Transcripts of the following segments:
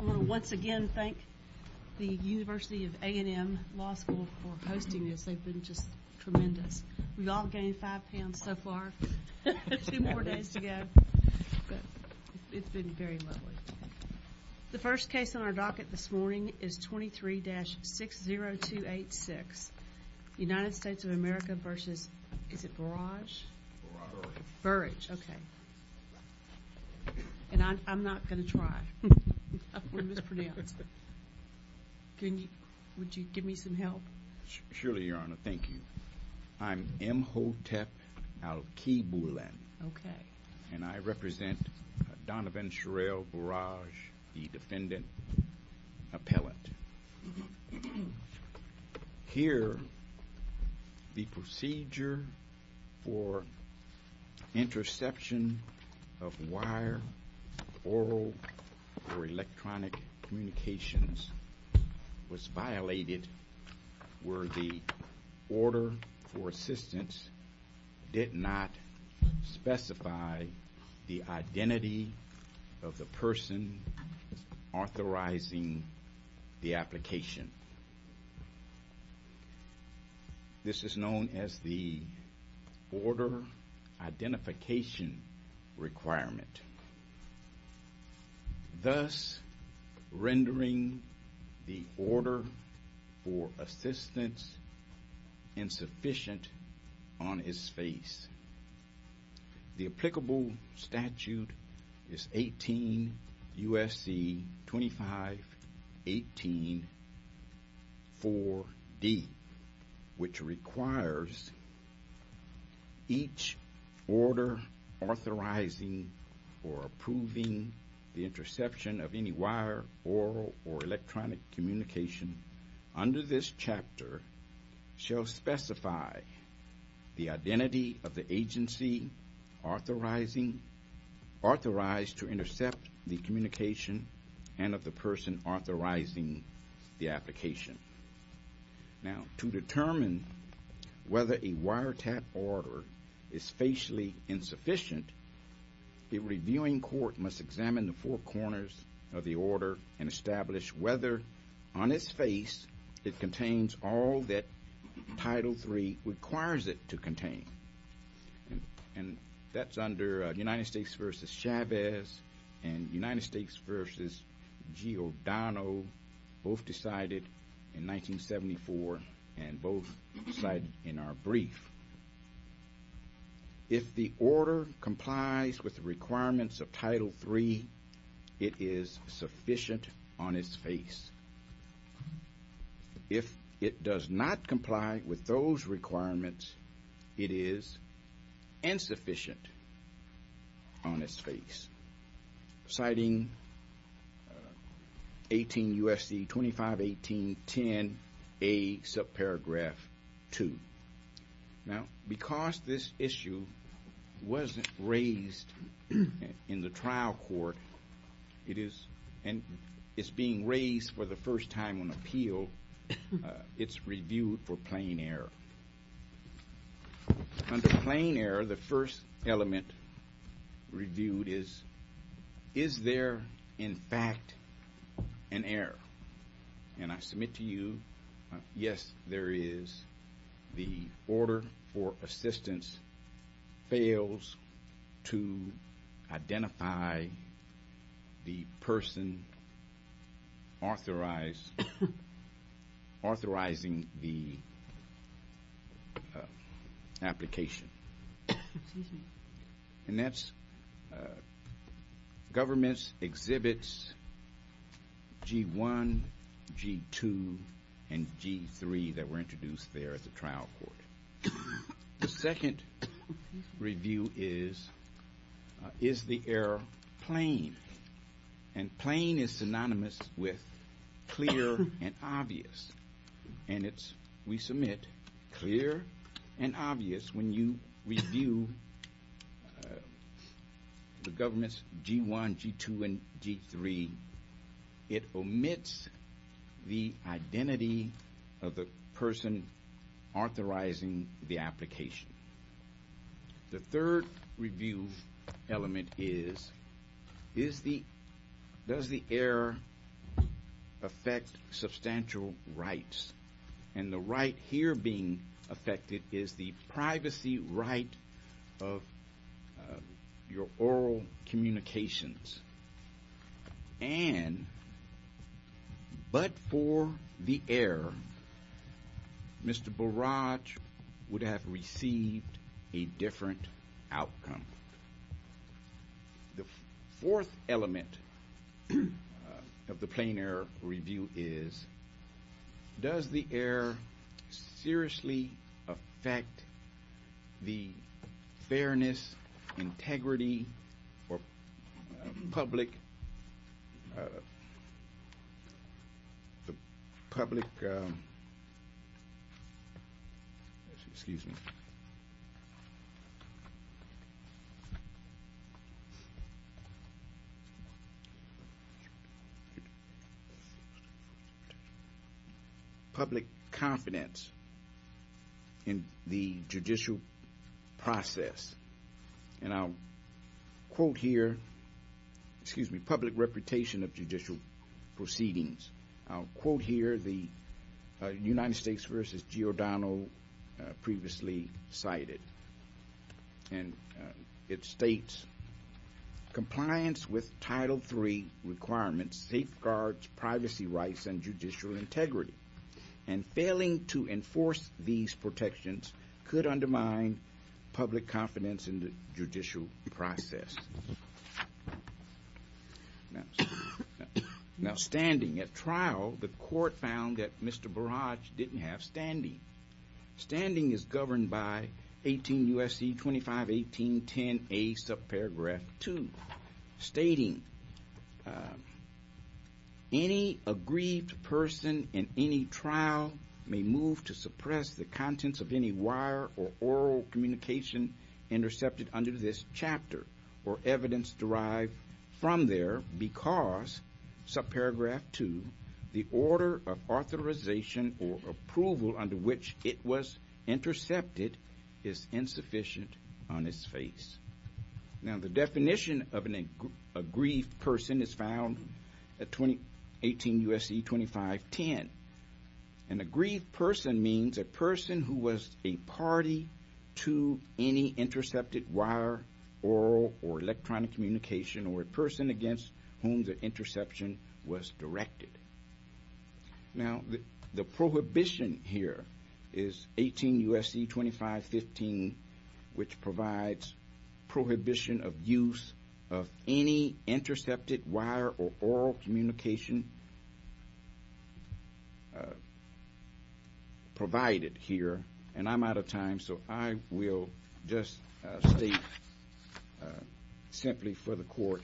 I want to once again thank the University of A&M Law School for hosting this. They've been just tremendous. We've all gained five pounds so far. Two more days to go, but it's been very lovely. The first case on our docket this morning is 23-60286, United States of America v. Bourrage. Bourrage, okay. And I'm not going to try. I'm going to mispronounce. Would you give me some help? Surely, Your Honor. Thank you. I'm M. Hotep Al-Kiboulan. Okay. And I represent Donovan Shirell Bourrage, the defendant appellate. Here, the procedure for interception of wire, oral, or electronic communications was violated where the order for assistance did not specify the identity of the person authorizing the application. This is known as the order identification requirement, thus rendering the order for assistance insufficient on its face. The applicable statute is 18 U.S.C. 2518-4D, which requires each order authorizing or approving the interception of any wire, oral, or electronic communication under this chapter shall specify the identity of the agency authorized to intercept the communication and of the person authorizing the application. Now, to determine whether a wiretap order is facially insufficient, a reviewing court must examine the four corners of the order and establish whether, on its face, it contains all that Title III requires it to contain. And that's under United States v. Chavez and United States v. G. O'Donnell, both decided in 1974 and both cited in our brief. If the order complies with the requirements of Title III, it is sufficient on its face. If it does not comply with those requirements, it is insufficient on its face, citing 18 U.S.C. 2518-10A, subparagraph 2. Now, because this issue wasn't raised in the trial court, it is – and it's being raised for the first time on appeal, it's reviewed for plain error. Under plain error, the first element reviewed is, is there, in fact, an error? And I submit to you, yes, there is. The order for assistance fails to identify the person authorized – authorizing the application. And that's – government exhibits G-1, G-2, and G-3 that were introduced there at the trial court. The second review is, is the error plain? And plain is synonymous with clear and obvious. And it's, we submit, clear and obvious when you review the government's G-1, G-2, and G-3. It omits the identity of the person authorizing the application. The third review element is, is the – does the error affect substantial rights? And the right here being affected is the privacy right of your oral communications. And, but for the error, Mr. Barrage would have received a different outcome. The fourth element of the plain error review is, does the error seriously affect the fairness, integrity, or public – public – excuse me – public confidence in the judicial process? And I'll quote here – excuse me – public reputation of judicial proceedings. I'll quote here the United States versus Giordano previously cited. And it states, compliance with Title III requirements safeguards privacy rights and judicial integrity. And failing to enforce these protections could undermine public confidence in the judicial process. Now, standing at trial, the court found that Mr. Barrage didn't have standing. Standing is governed by 18 U.S.C. 251810A, subparagraph 2. Stating, any aggrieved person in any trial may move to suppress the contents of any wire or oral communication intercepted under this chapter or evidence derived from there because, subparagraph 2, the order of authorization or approval under which it was intercepted is insufficient on its face. Now, the definition of an aggrieved person is found at 18 U.S.C. 2510. An aggrieved person means a person who was a party to any intercepted wire, oral, or electronic communication or a person against whom the interception was directed. Now, the prohibition here is 18 U.S.C. 2515, which provides prohibition of use of any intercepted wire or oral communication provided here. And I'm out of time, so I will just state simply for the court,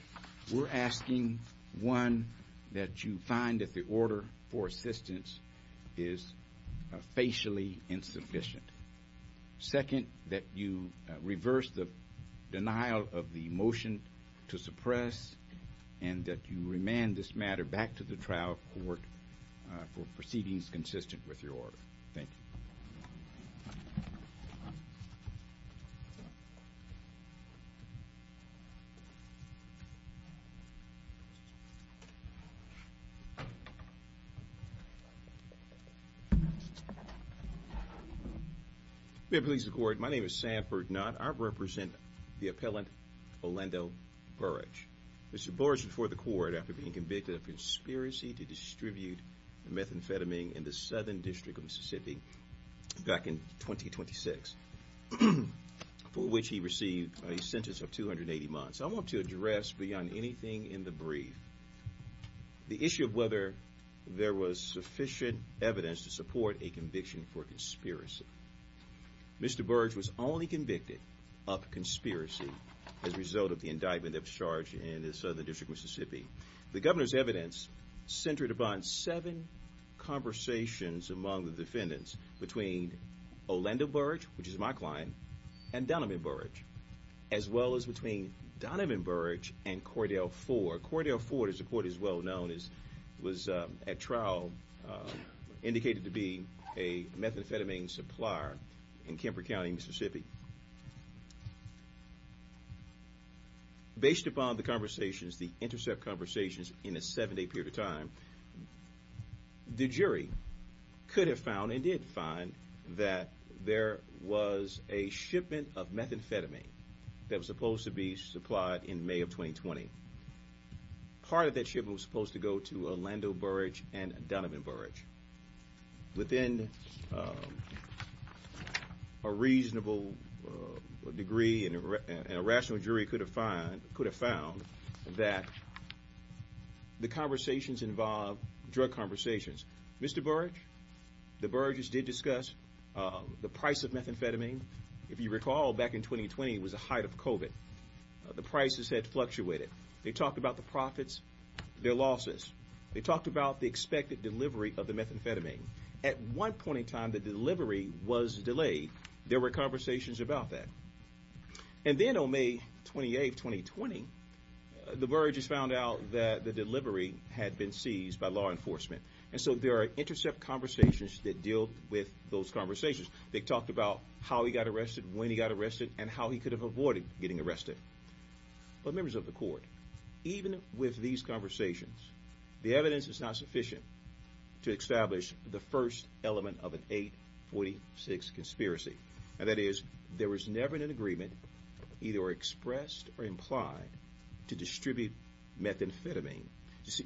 we're asking, one, that you find that the order for assistance is facially insufficient. Second, that you reverse the denial of the motion to suppress and that you remand this matter back to the trial court for proceedings consistent with your order. Thank you. May it please the court, my name is Sam Ferdinand. I represent the appellant, Orlando Burrage. Mr. Burrage before the court after being convicted of conspiracy to distribute methamphetamine in the Southern District of Mississippi back in 2026, for which he received a sentence of 280 months. I want to address, beyond anything in the brief, the issue of whether there was sufficient evidence to support a conviction for conspiracy. Mr. Burrage was only convicted of conspiracy as a result of the indictment of charge in the Southern District of Mississippi. The governor's evidence centered upon seven conversations among the defendants between Orlando Burrage, which is my client, and Donovan Burrage, as well as between Donovan Burrage and Cordell Ford. Cordell Ford, as the court is well known, was at trial, indicated to be a methamphetamine supplier in Kemper County, Mississippi. Based upon the conversations, the intercept conversations in a seven-day period of time, the jury could have found and did find that there was a shipment of methamphetamine that was supposed to be supplied in May of 2020. Part of that shipment was supposed to go to Orlando Burrage and Donovan Burrage. Within a reasonable degree and a rational jury could have found that the conversations involved drug conversations. Mr. Burrage, the Burrage's did discuss the price of methamphetamine. If you recall, back in 2020, it was the height of COVID. The prices had fluctuated. They talked about the profits, their losses. They talked about the expected delivery of the methamphetamine. At one point in time, the delivery was delayed. There were conversations about that. And then on May 28, 2020, the Burrage's found out that the delivery had been seized by law enforcement. And so there are intercept conversations that deal with those conversations. They talked about how he got arrested, when he got arrested, and how he could have avoided getting arrested. But members of the court, even with these conversations, the evidence is not sufficient to establish the first element of an 846 conspiracy. And that is, there was never an agreement, either expressed or implied, to distribute methamphetamine.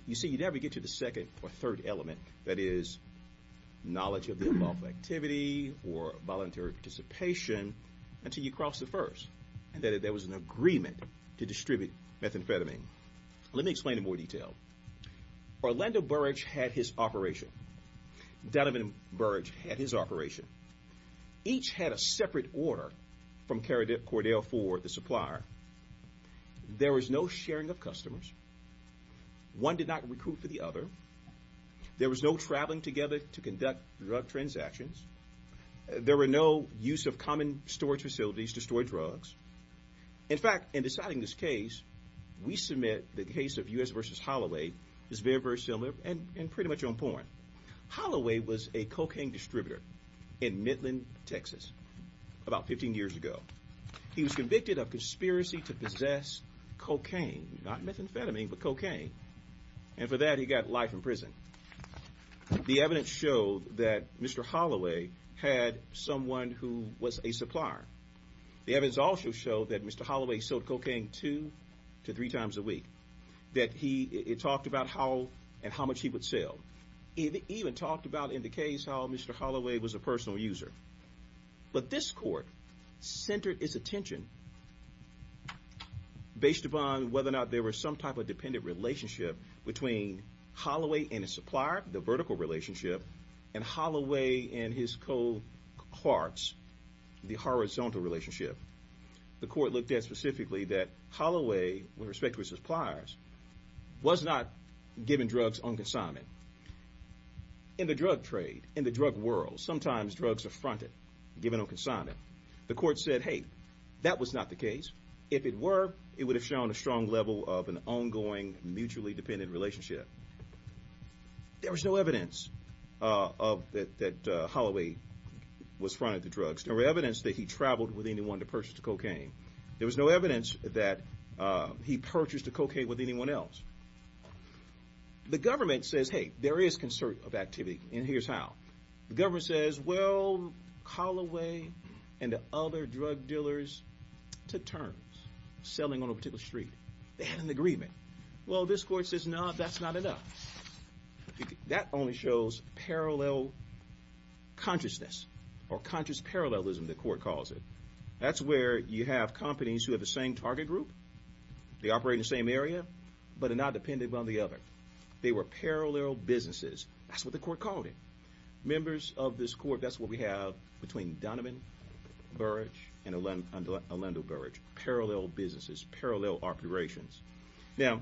You see, you never get to the second or third element, that is, knowledge of the involved activity or voluntary participation, until you cross the first. And that there was an agreement to distribute methamphetamine. Let me explain in more detail. Orlando Burrage had his operation. Donovan Burrage had his operation. Each had a separate order from Cordell for the supplier. There was no sharing of customers. One did not recruit for the other. There was no traveling together to conduct drug transactions. There were no use of common storage facilities to store drugs. In fact, in deciding this case, we submit the case of U.S. v. Holloway is very, very similar and pretty much on point. Holloway was a cocaine distributor in Midland, Texas, about 15 years ago. He was convicted of conspiracy to possess cocaine, not methamphetamine, but cocaine. And for that, he got life in prison. The evidence showed that Mr. Holloway had someone who was a supplier. The evidence also showed that Mr. Holloway sold cocaine two to three times a week. It talked about how and how much he would sell. It even talked about, in the case, how Mr. Holloway was a personal user. But this court centered its attention based upon whether or not there was some type of dependent relationship between Holloway and his supplier, the vertical relationship, and Holloway and his co-parts, the horizontal relationship. The court looked at specifically that Holloway, with respect to his suppliers, was not giving drugs on consignment. In the drug trade, in the drug world, sometimes drugs are fronted, given on consignment. The court said, hey, that was not the case. If it were, it would have shown a strong level of an ongoing, mutually dependent relationship. There was no evidence that Holloway was fronted to drugs. There was no evidence that he traveled with anyone to purchase the cocaine. There was no evidence that he purchased the cocaine with anyone else. The government says, hey, there is concern of activity, and here's how. The government says, well, Holloway and the other drug dealers took turns selling on a particular street. They had an agreement. Well, this court says, no, that's not enough. That only shows parallel consciousness or conscious parallelism, the court calls it. That's where you have companies who have the same target group. They operate in the same area, but are not dependent on the other. They were parallel businesses. That's what the court called it. Members of this court, that's what we have between Donovan Burrage and Orlando Burrage. Parallel businesses, parallel operations. Now,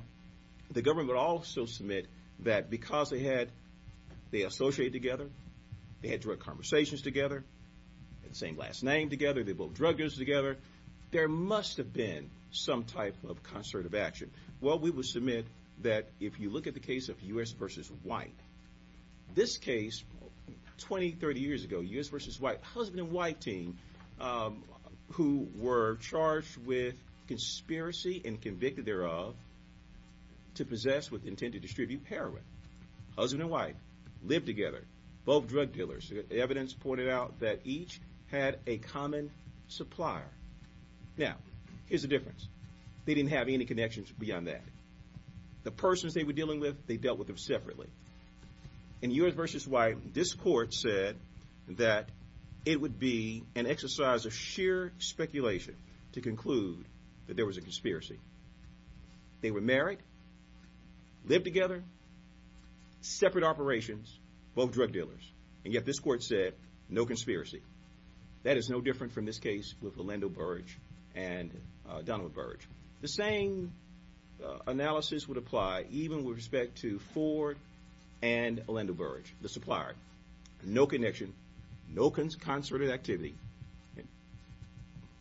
the government would also submit that because they associated together, they had drug conversations together, had the same last name together, they both drug dealers together, there must have been some type of concert of action. Well, we would submit that if you look at the case of U.S. v. White, this case, 20, 30 years ago, U.S. v. White, husband and wife team who were charged with conspiracy and convicted thereof to possess with the intent to distribute heroin, husband and wife, lived together, both drug dealers. Evidence pointed out that each had a common supplier. Now, here's the difference. They didn't have any connections beyond that. The persons they were dealing with, they dealt with them separately. In U.S. v. White, this court said that it would be an exercise of sheer speculation to conclude that there was a conspiracy. They were married, lived together, separate operations, both drug dealers. And yet this court said, no conspiracy. That is no different from this case with Orlando Burrage and Donald Burrage. The same analysis would apply even with respect to Ford and Orlando Burrage, the supplier. No connection, no concerted activity.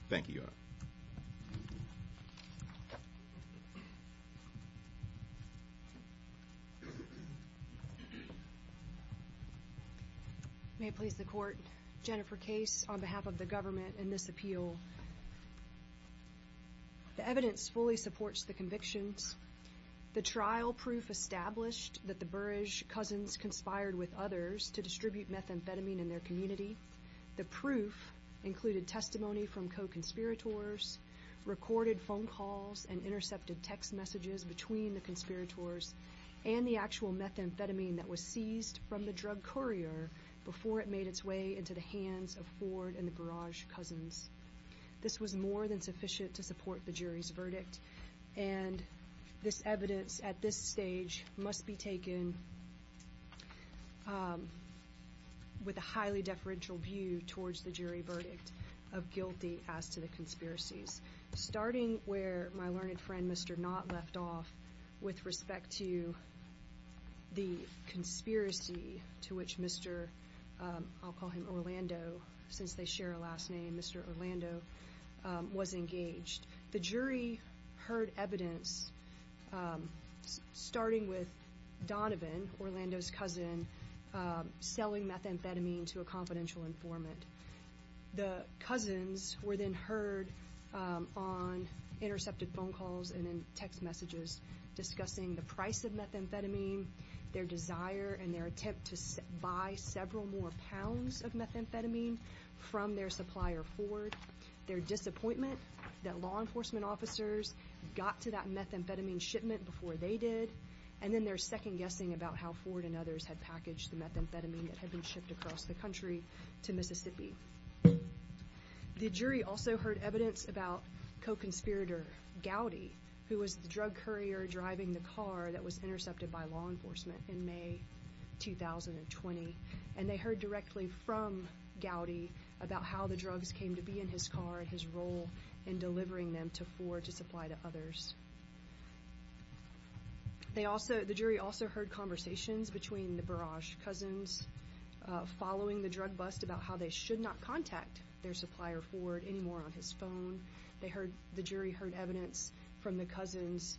Thank you, Your Honor. May it please the Court, Jennifer Case on behalf of the government in this appeal. The evidence fully supports the convictions. The trial proof established that the Burrage cousins conspired with others to distribute methamphetamine in their community. The proof included testimony from co-conspirators, recorded phone calls and intercepted text messages between the conspirators, and the actual methamphetamine that was seized from the drug courier before it made its way into the hands of Ford and the Burrage cousins. This was more than sufficient to support the jury's verdict. And this evidence at this stage must be taken with a highly deferential view towards the jury verdict of guilty as to the conspiracies. Starting where my learned friend, Mr. Knott, left off with respect to the conspiracy to which Mr. I'll call him Orlando, since they share a last name, Mr. Orlando was engaged. The jury heard evidence starting with Donovan, Orlando's cousin, selling methamphetamine to a confidential informant. The cousins were then heard on intercepted phone calls and in text messages discussing the price of methamphetamine, their desire and their attempt to buy several more pounds of methamphetamine from their supplier, Ford. Their disappointment that law enforcement officers got to that methamphetamine shipment before they did, and then their second guessing about how Ford and others had packaged the methamphetamine that had been shipped across the country to Mississippi. The jury also heard evidence about co-conspirator Gowdy, who was the drug courier driving the car that was intercepted by law enforcement in May 2020. And they heard directly from Gowdy about how the drugs came to be in his car and his role in delivering them to Ford to supply to others. The jury also heard conversations between the Burrage cousins following the drug bust about how they should not contact their supplier, Ford, anymore on his phone. The jury heard evidence from the cousins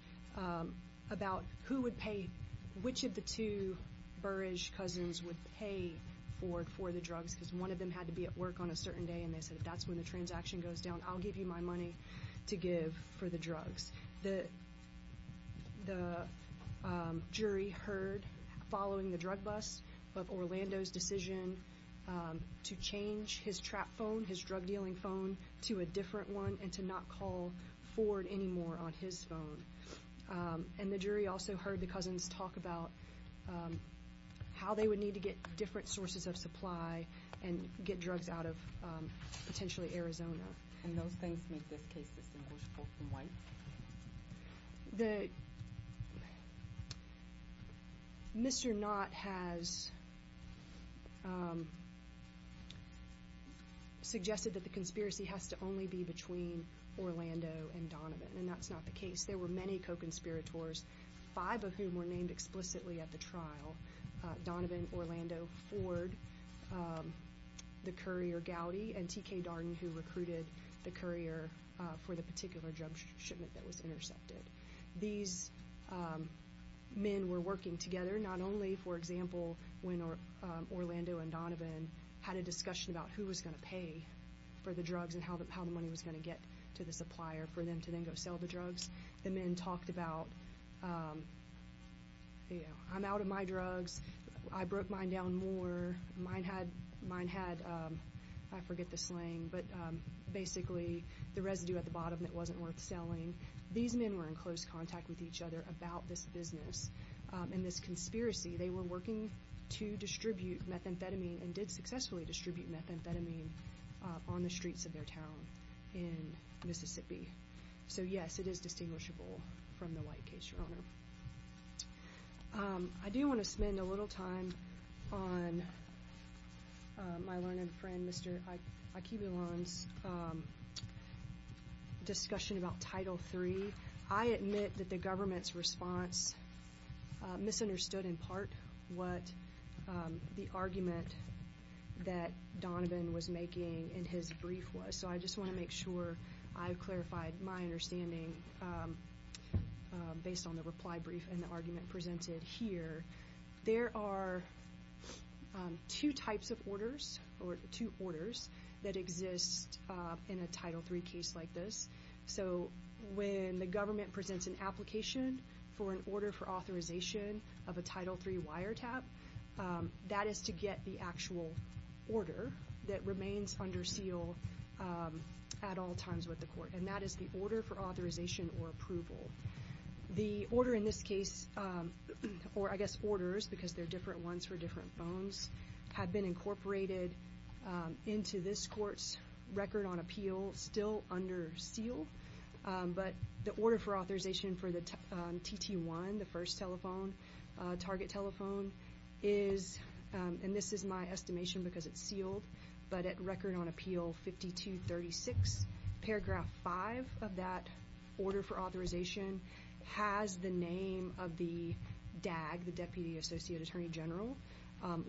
about who would pay, which of the two Burrage cousins would pay for the drugs, because one of them had to be at work on a certain day and they said, if that's when the transaction goes down, I'll give you my money to give for the drugs. The jury heard following the drug bust of Orlando's decision to change his trap phone, his drug dealing phone, to a different one and to not call Ford anymore on his phone. And the jury also heard the cousins talk about how they would need to get different sources of supply and get drugs out of potentially Arizona. And those things make this case distinguishable from what? Mr. Knott has suggested that the conspiracy has to only be between Orlando and Donovan, and that's not the case. There were many co-conspirators, five of whom were named explicitly at the trial, Donovan, Orlando, Ford, the courier Gowdy, and T.K. Darden who recruited the courier for the particular drug shipment that was intercepted. These men were working together, not only, for example, when Orlando and Donovan had a discussion about who was going to pay for the drugs and how the money was going to get to the supplier for them to then go sell the drugs. The men talked about, you know, I'm out of my drugs, I broke mine down more, mine had, I forget the slang, but basically the residue at the bottom that wasn't worth selling. These men were in close contact with each other about this business and this conspiracy. They were working to distribute methamphetamine and did successfully distribute methamphetamine on the streets of their town in Mississippi. So, yes, it is distinguishable from the White case, Your Honor. I do want to spend a little time on my learned friend, Mr. Akebulon's discussion about Title III. I admit that the government's response misunderstood in part what the argument that Donovan was making in his brief was. So I just want to make sure I've clarified my understanding based on the reply brief and the argument presented here. There are two types of orders or two orders that exist in a Title III case like this. So when the government presents an application for an order for authorization of a Title III wiretap, that is to get the actual order that remains under seal at all times with the court, and that is the order for authorization or approval. The order in this case, or I guess orders because they're different ones for different phones, have been incorporated into this court's record on appeal still under seal. But the order for authorization for the TT1, the first telephone, target telephone, is, and this is my estimation because it's sealed, but at record on appeal 5236, paragraph five of that order for authorization has the name of the DAG, the Deputy Associate Attorney General,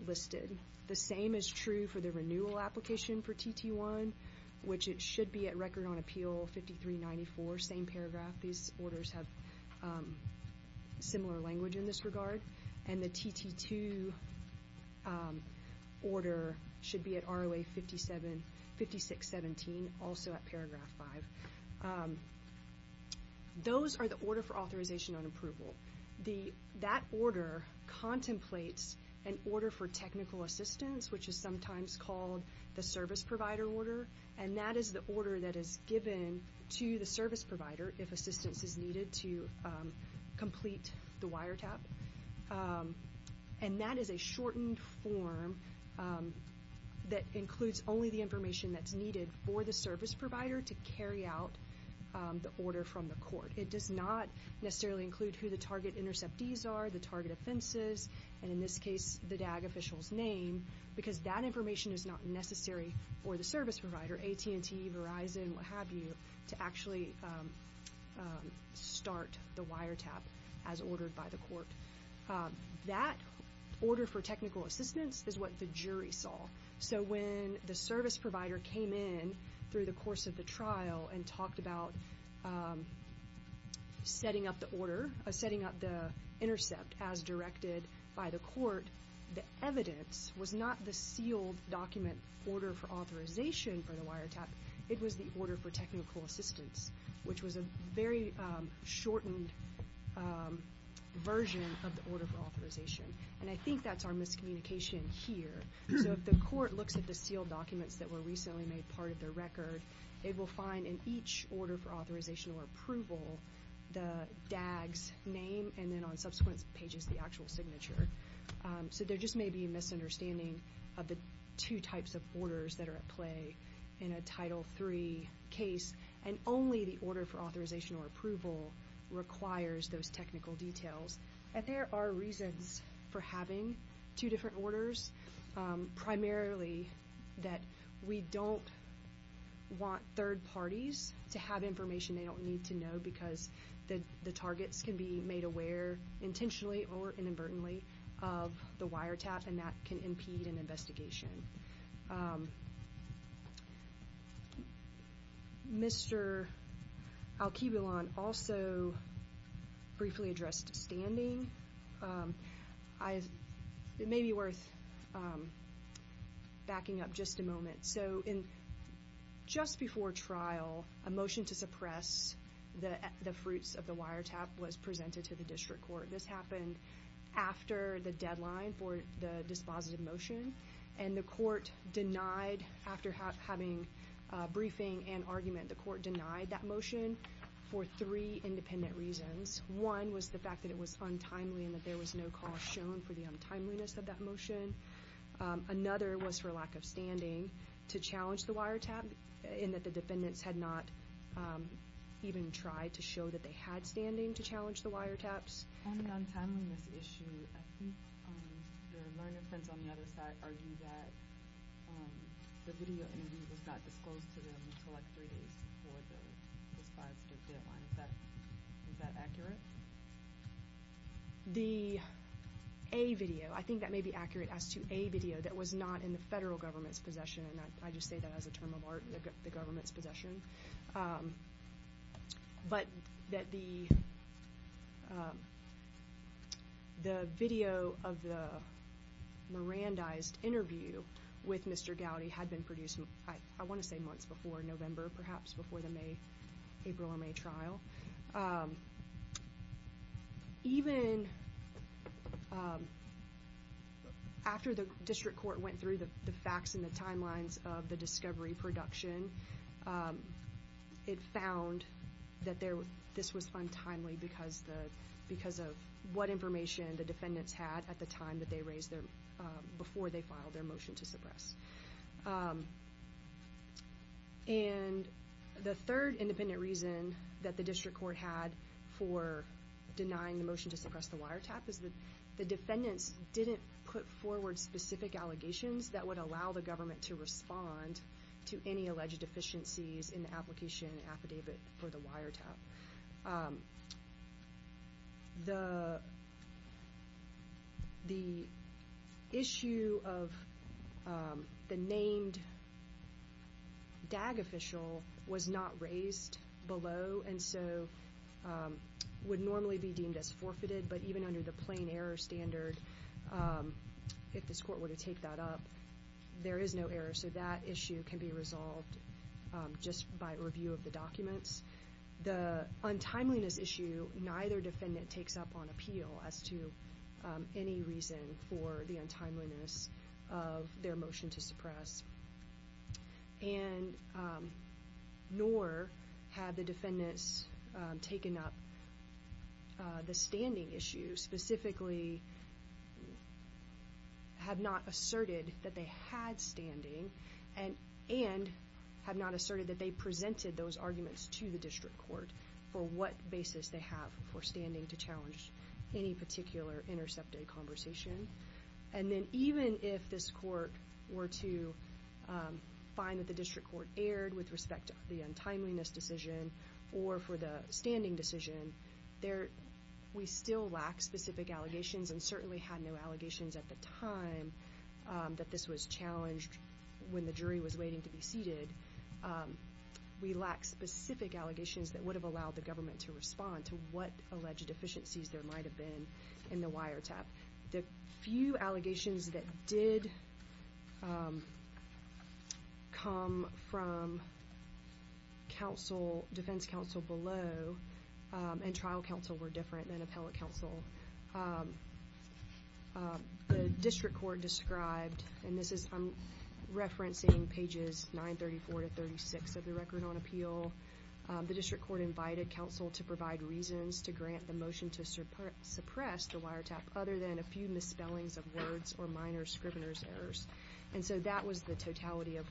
listed. The same is true for the renewal application for TT1, which it should be at record on appeal 5394, same paragraph. These orders have similar language in this regard. And the TT2 order should be at ROA 5617, also at paragraph five. Those are the order for authorization on approval. That order contemplates an order for technical assistance, which is sometimes called the service provider order, and that is the order that is given to the service provider if assistance is needed to complete the wiretap. And that is a shortened form that includes only the information that's needed for the service provider to carry out the order from the court. It does not necessarily include who the target interceptees are, the target offenses, and in this case the DAG official's name because that information is not necessary for the service provider, AT&T, Verizon, what have you, to actually start the wiretap as ordered by the court. That order for technical assistance is what the jury saw. So when the service provider came in through the course of the trial and talked about setting up the order, setting up the intercept as directed by the court, the evidence was not the sealed document order for authorization for the wiretap. It was the order for technical assistance, which was a very shortened version of the order for authorization. And I think that's our miscommunication here. So if the court looks at the sealed documents that were recently made part of their record, they will find in each order for authorization or approval the DAG's name and then on subsequent pages the actual signature. So there just may be a misunderstanding of the two types of orders that are at play in a Title III case, and only the order for authorization or approval requires those technical details. There are reasons for having two different orders, primarily that we don't want third parties to have information they don't need to know because the targets can be made aware intentionally or inadvertently of the wiretap, and that can impede an investigation. Mr. Alkibulan also briefly addressed standing. It may be worth backing up just a moment. So just before trial, a motion to suppress the fruits of the wiretap was presented to the district court. This happened after the deadline for the dispositive motion, and the court denied after having briefing and argument, the court denied that motion for three independent reasons. One was the fact that it was untimely and that there was no cause shown for the untimeliness of that motion. Another was for lack of standing to challenge the wiretap and that the defendants had not even tried to show that they had standing to challenge the wiretaps. On the untimeliness issue, I think your learned friends on the other side argue that the video interview was not disclosed to them until like three days before the dispositive deadline. Is that accurate? The A video, I think that may be accurate as to A video that was not in the federal government's possession, and I just say that as a term of art, the government's possession, but that the video of the Mirandized interview with Mr. Gowdy had been produced, I want to say months before November, perhaps before the April or May trial. Even after the district court went through the facts and the timelines of the discovery production, it found that this was untimely because of what information the defendants had at the time before they filed their motion to suppress. And the third independent reason that the district court had for denying the motion to suppress the wiretap is that the defendants didn't put forward specific allegations that would allow the government to respond to any alleged deficiencies in the application affidavit for the wiretap. The issue of the named DAG official was not raised below and so would normally be deemed as forfeited, but even under the plain error standard, if this court were to take that up, there is no error. So that issue can be resolved just by review of the documents. The untimeliness issue, neither defendant takes up on appeal as to any reason for the untimeliness of their motion to suppress, nor have the defendants taken up the standing issue, specifically have not asserted that they had standing and have not asserted that they presented those arguments to the district court for what basis they have for standing to challenge any particular intercepted conversation. And then even if this court were to find that the district court erred with respect to the untimeliness decision or for the standing decision, we still lack specific allegations and certainly had no allegations at the time that this was challenged when the jury was waiting to be seated. We lack specific allegations that would have allowed the government to respond to what alleged deficiencies there might have been in the wiretap. The few allegations that did come from defense counsel below and trial counsel were different than appellate counsel. The district court described, and I'm referencing pages 934 to 36 of the Record on Appeal, the district court invited counsel to provide reasons to grant the motion to suppress the wiretap other than a few misspellings of words or minor scrivener's errors. And so that was the totality of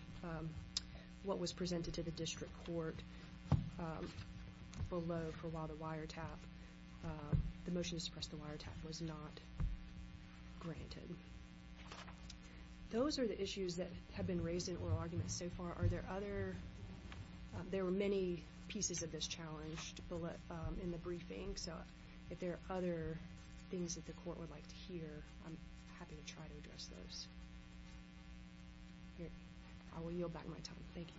what was presented to the district court below for while the motion to suppress the wiretap was not granted. Those are the issues that have been raised in oral arguments so far. Are there other – there were many pieces of this challenged in the briefing, so if there are other things that the court would like to hear, I'm happy to try to address those. I will yield back my time. Thank you.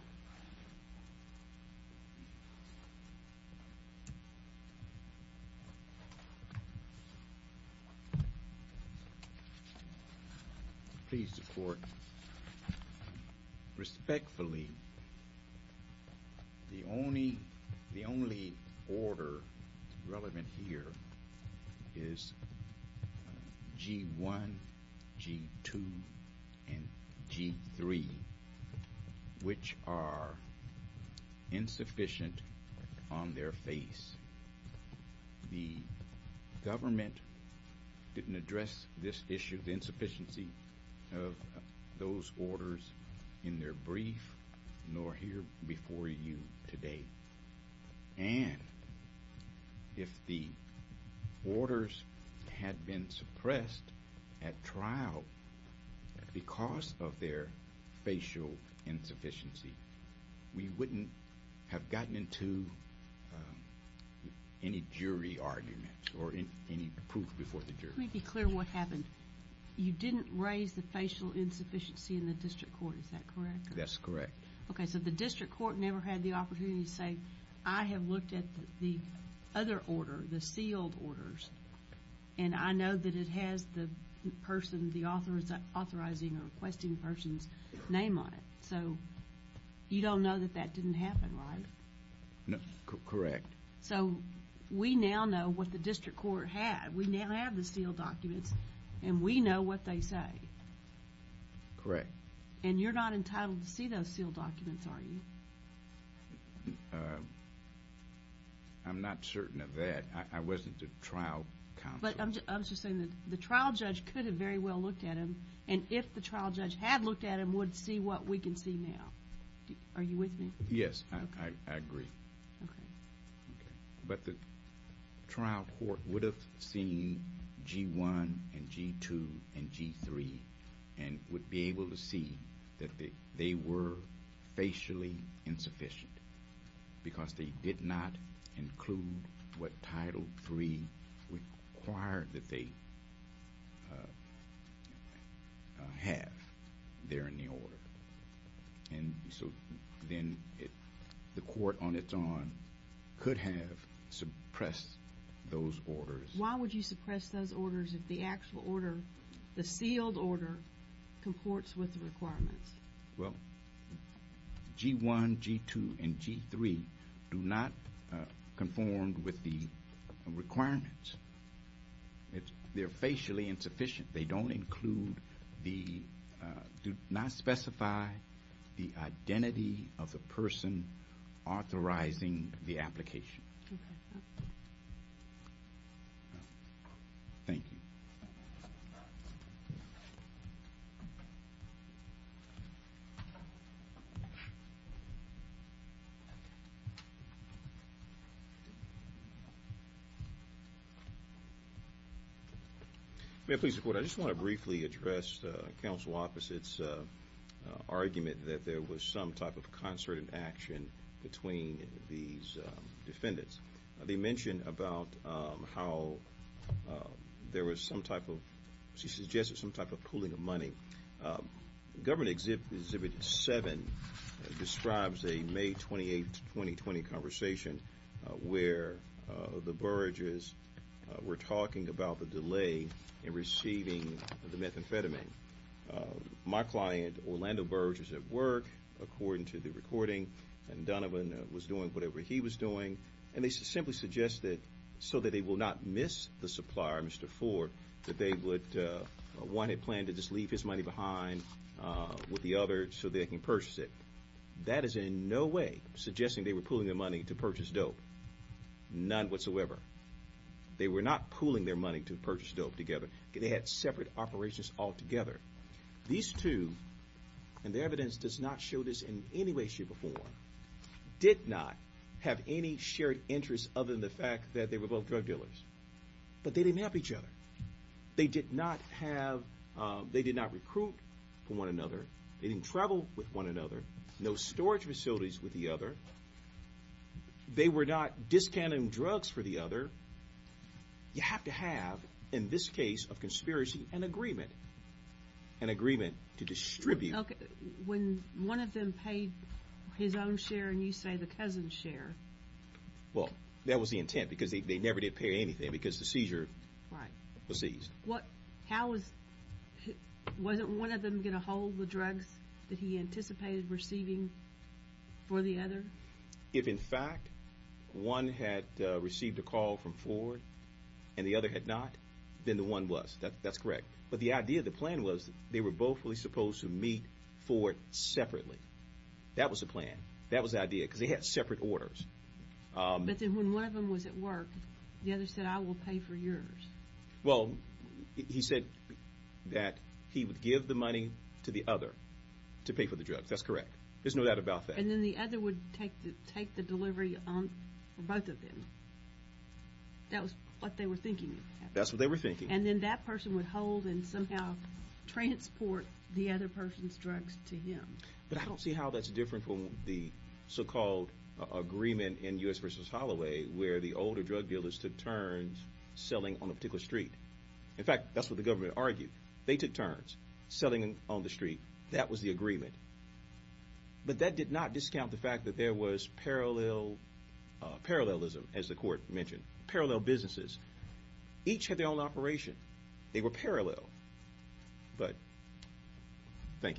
Thank you. which are insufficient on their face. The government didn't address this issue, the insufficiency of those orders in their brief, nor here before you today. And if the orders had been suppressed at trial because of their facial insufficiency, we wouldn't have gotten into any jury argument or any proof before the jury. Let me be clear what happened. You didn't raise the facial insufficiency in the district court, is that correct? That's correct. Okay, so the district court never had the opportunity to say, I have looked at the other order, the sealed orders, and I know that it has the person, the authorizing or requesting person's name on it. So you don't know that that didn't happen, right? Correct. So we now know what the district court had. We now have the sealed documents, and we know what they say. Correct. And you're not entitled to see those sealed documents, are you? I'm not certain of that. I wasn't the trial counsel. But I'm just saying that the trial judge could have very well looked at them, and if the trial judge had looked at them, would see what we can see now. Are you with me? Yes, I agree. Okay. But the trial court would have seen G-1 and G-2 and G-3 and would be able to see that they were facially insufficient because they did not include what Title III required that they have there in the order. And so then the court on its own could have suppressed those orders. Why would you suppress those orders if the actual order, the sealed order, comports with the requirements? Well, G-1, G-2, and G-3 do not conform with the requirements. They're facially insufficient. They do not specify the identity of the person authorizing the application. Okay. Thank you. May I please report? I just want to briefly address the counsel office's argument that there was some type of concerted action between these defendants. They mentioned about how there was some type of, she suggested some type of pooling of money. Government Exhibit 7 describes a May 28, 2020 conversation where the Burrages were talking about the delay in receiving the methamphetamine. My client, Orlando Burrage, was at work, according to the recording, and Donovan was doing whatever he was doing, and they simply suggested so that they will not miss the supplier, Mr. Ford, that they would, one had planned to just leave his money behind with the other so they can purchase it. That is in no way suggesting they were pooling their money to purchase dope. None whatsoever. They were not pooling their money to purchase dope together. They had separate operations altogether. These two, and the evidence does not show this in any way, shape, or form, did not have any shared interests other than the fact that they were both drug dealers. But they didn't help each other. They did not recruit for one another. They didn't travel with one another. No storage facilities with the other. They were not discounting drugs for the other. You have to have, in this case of conspiracy, an agreement. An agreement to distribute. Okay. When one of them paid his own share and you say the cousin's share. Well, that was the intent because they never did pay anything because the seizure was seized. Wasn't one of them going to hold the drugs that he anticipated receiving for the other? If, in fact, one had received a call from Ford and the other had not, then the one was. That's correct. But the idea, the plan was they were both supposed to meet for it separately. That was the plan. That was the idea because they had separate orders. But then when one of them was at work, the other said, I will pay for yours. Well, he said that he would give the money to the other to pay for the drugs. That's correct. There's no doubt about that. And then the other would take the delivery for both of them. That was what they were thinking. That's what they were thinking. And then that person would hold and somehow transport the other person's drugs to him. But I don't see how that's different from the so-called agreement in U.S. v. Holloway where the older drug dealers took turns selling on a particular street. In fact, that's what the government argued. They took turns selling on the street. That was the agreement. But that did not discount the fact that there was parallelism, as the court mentioned, parallel businesses. Each had their own operation. They were parallel. But thank you.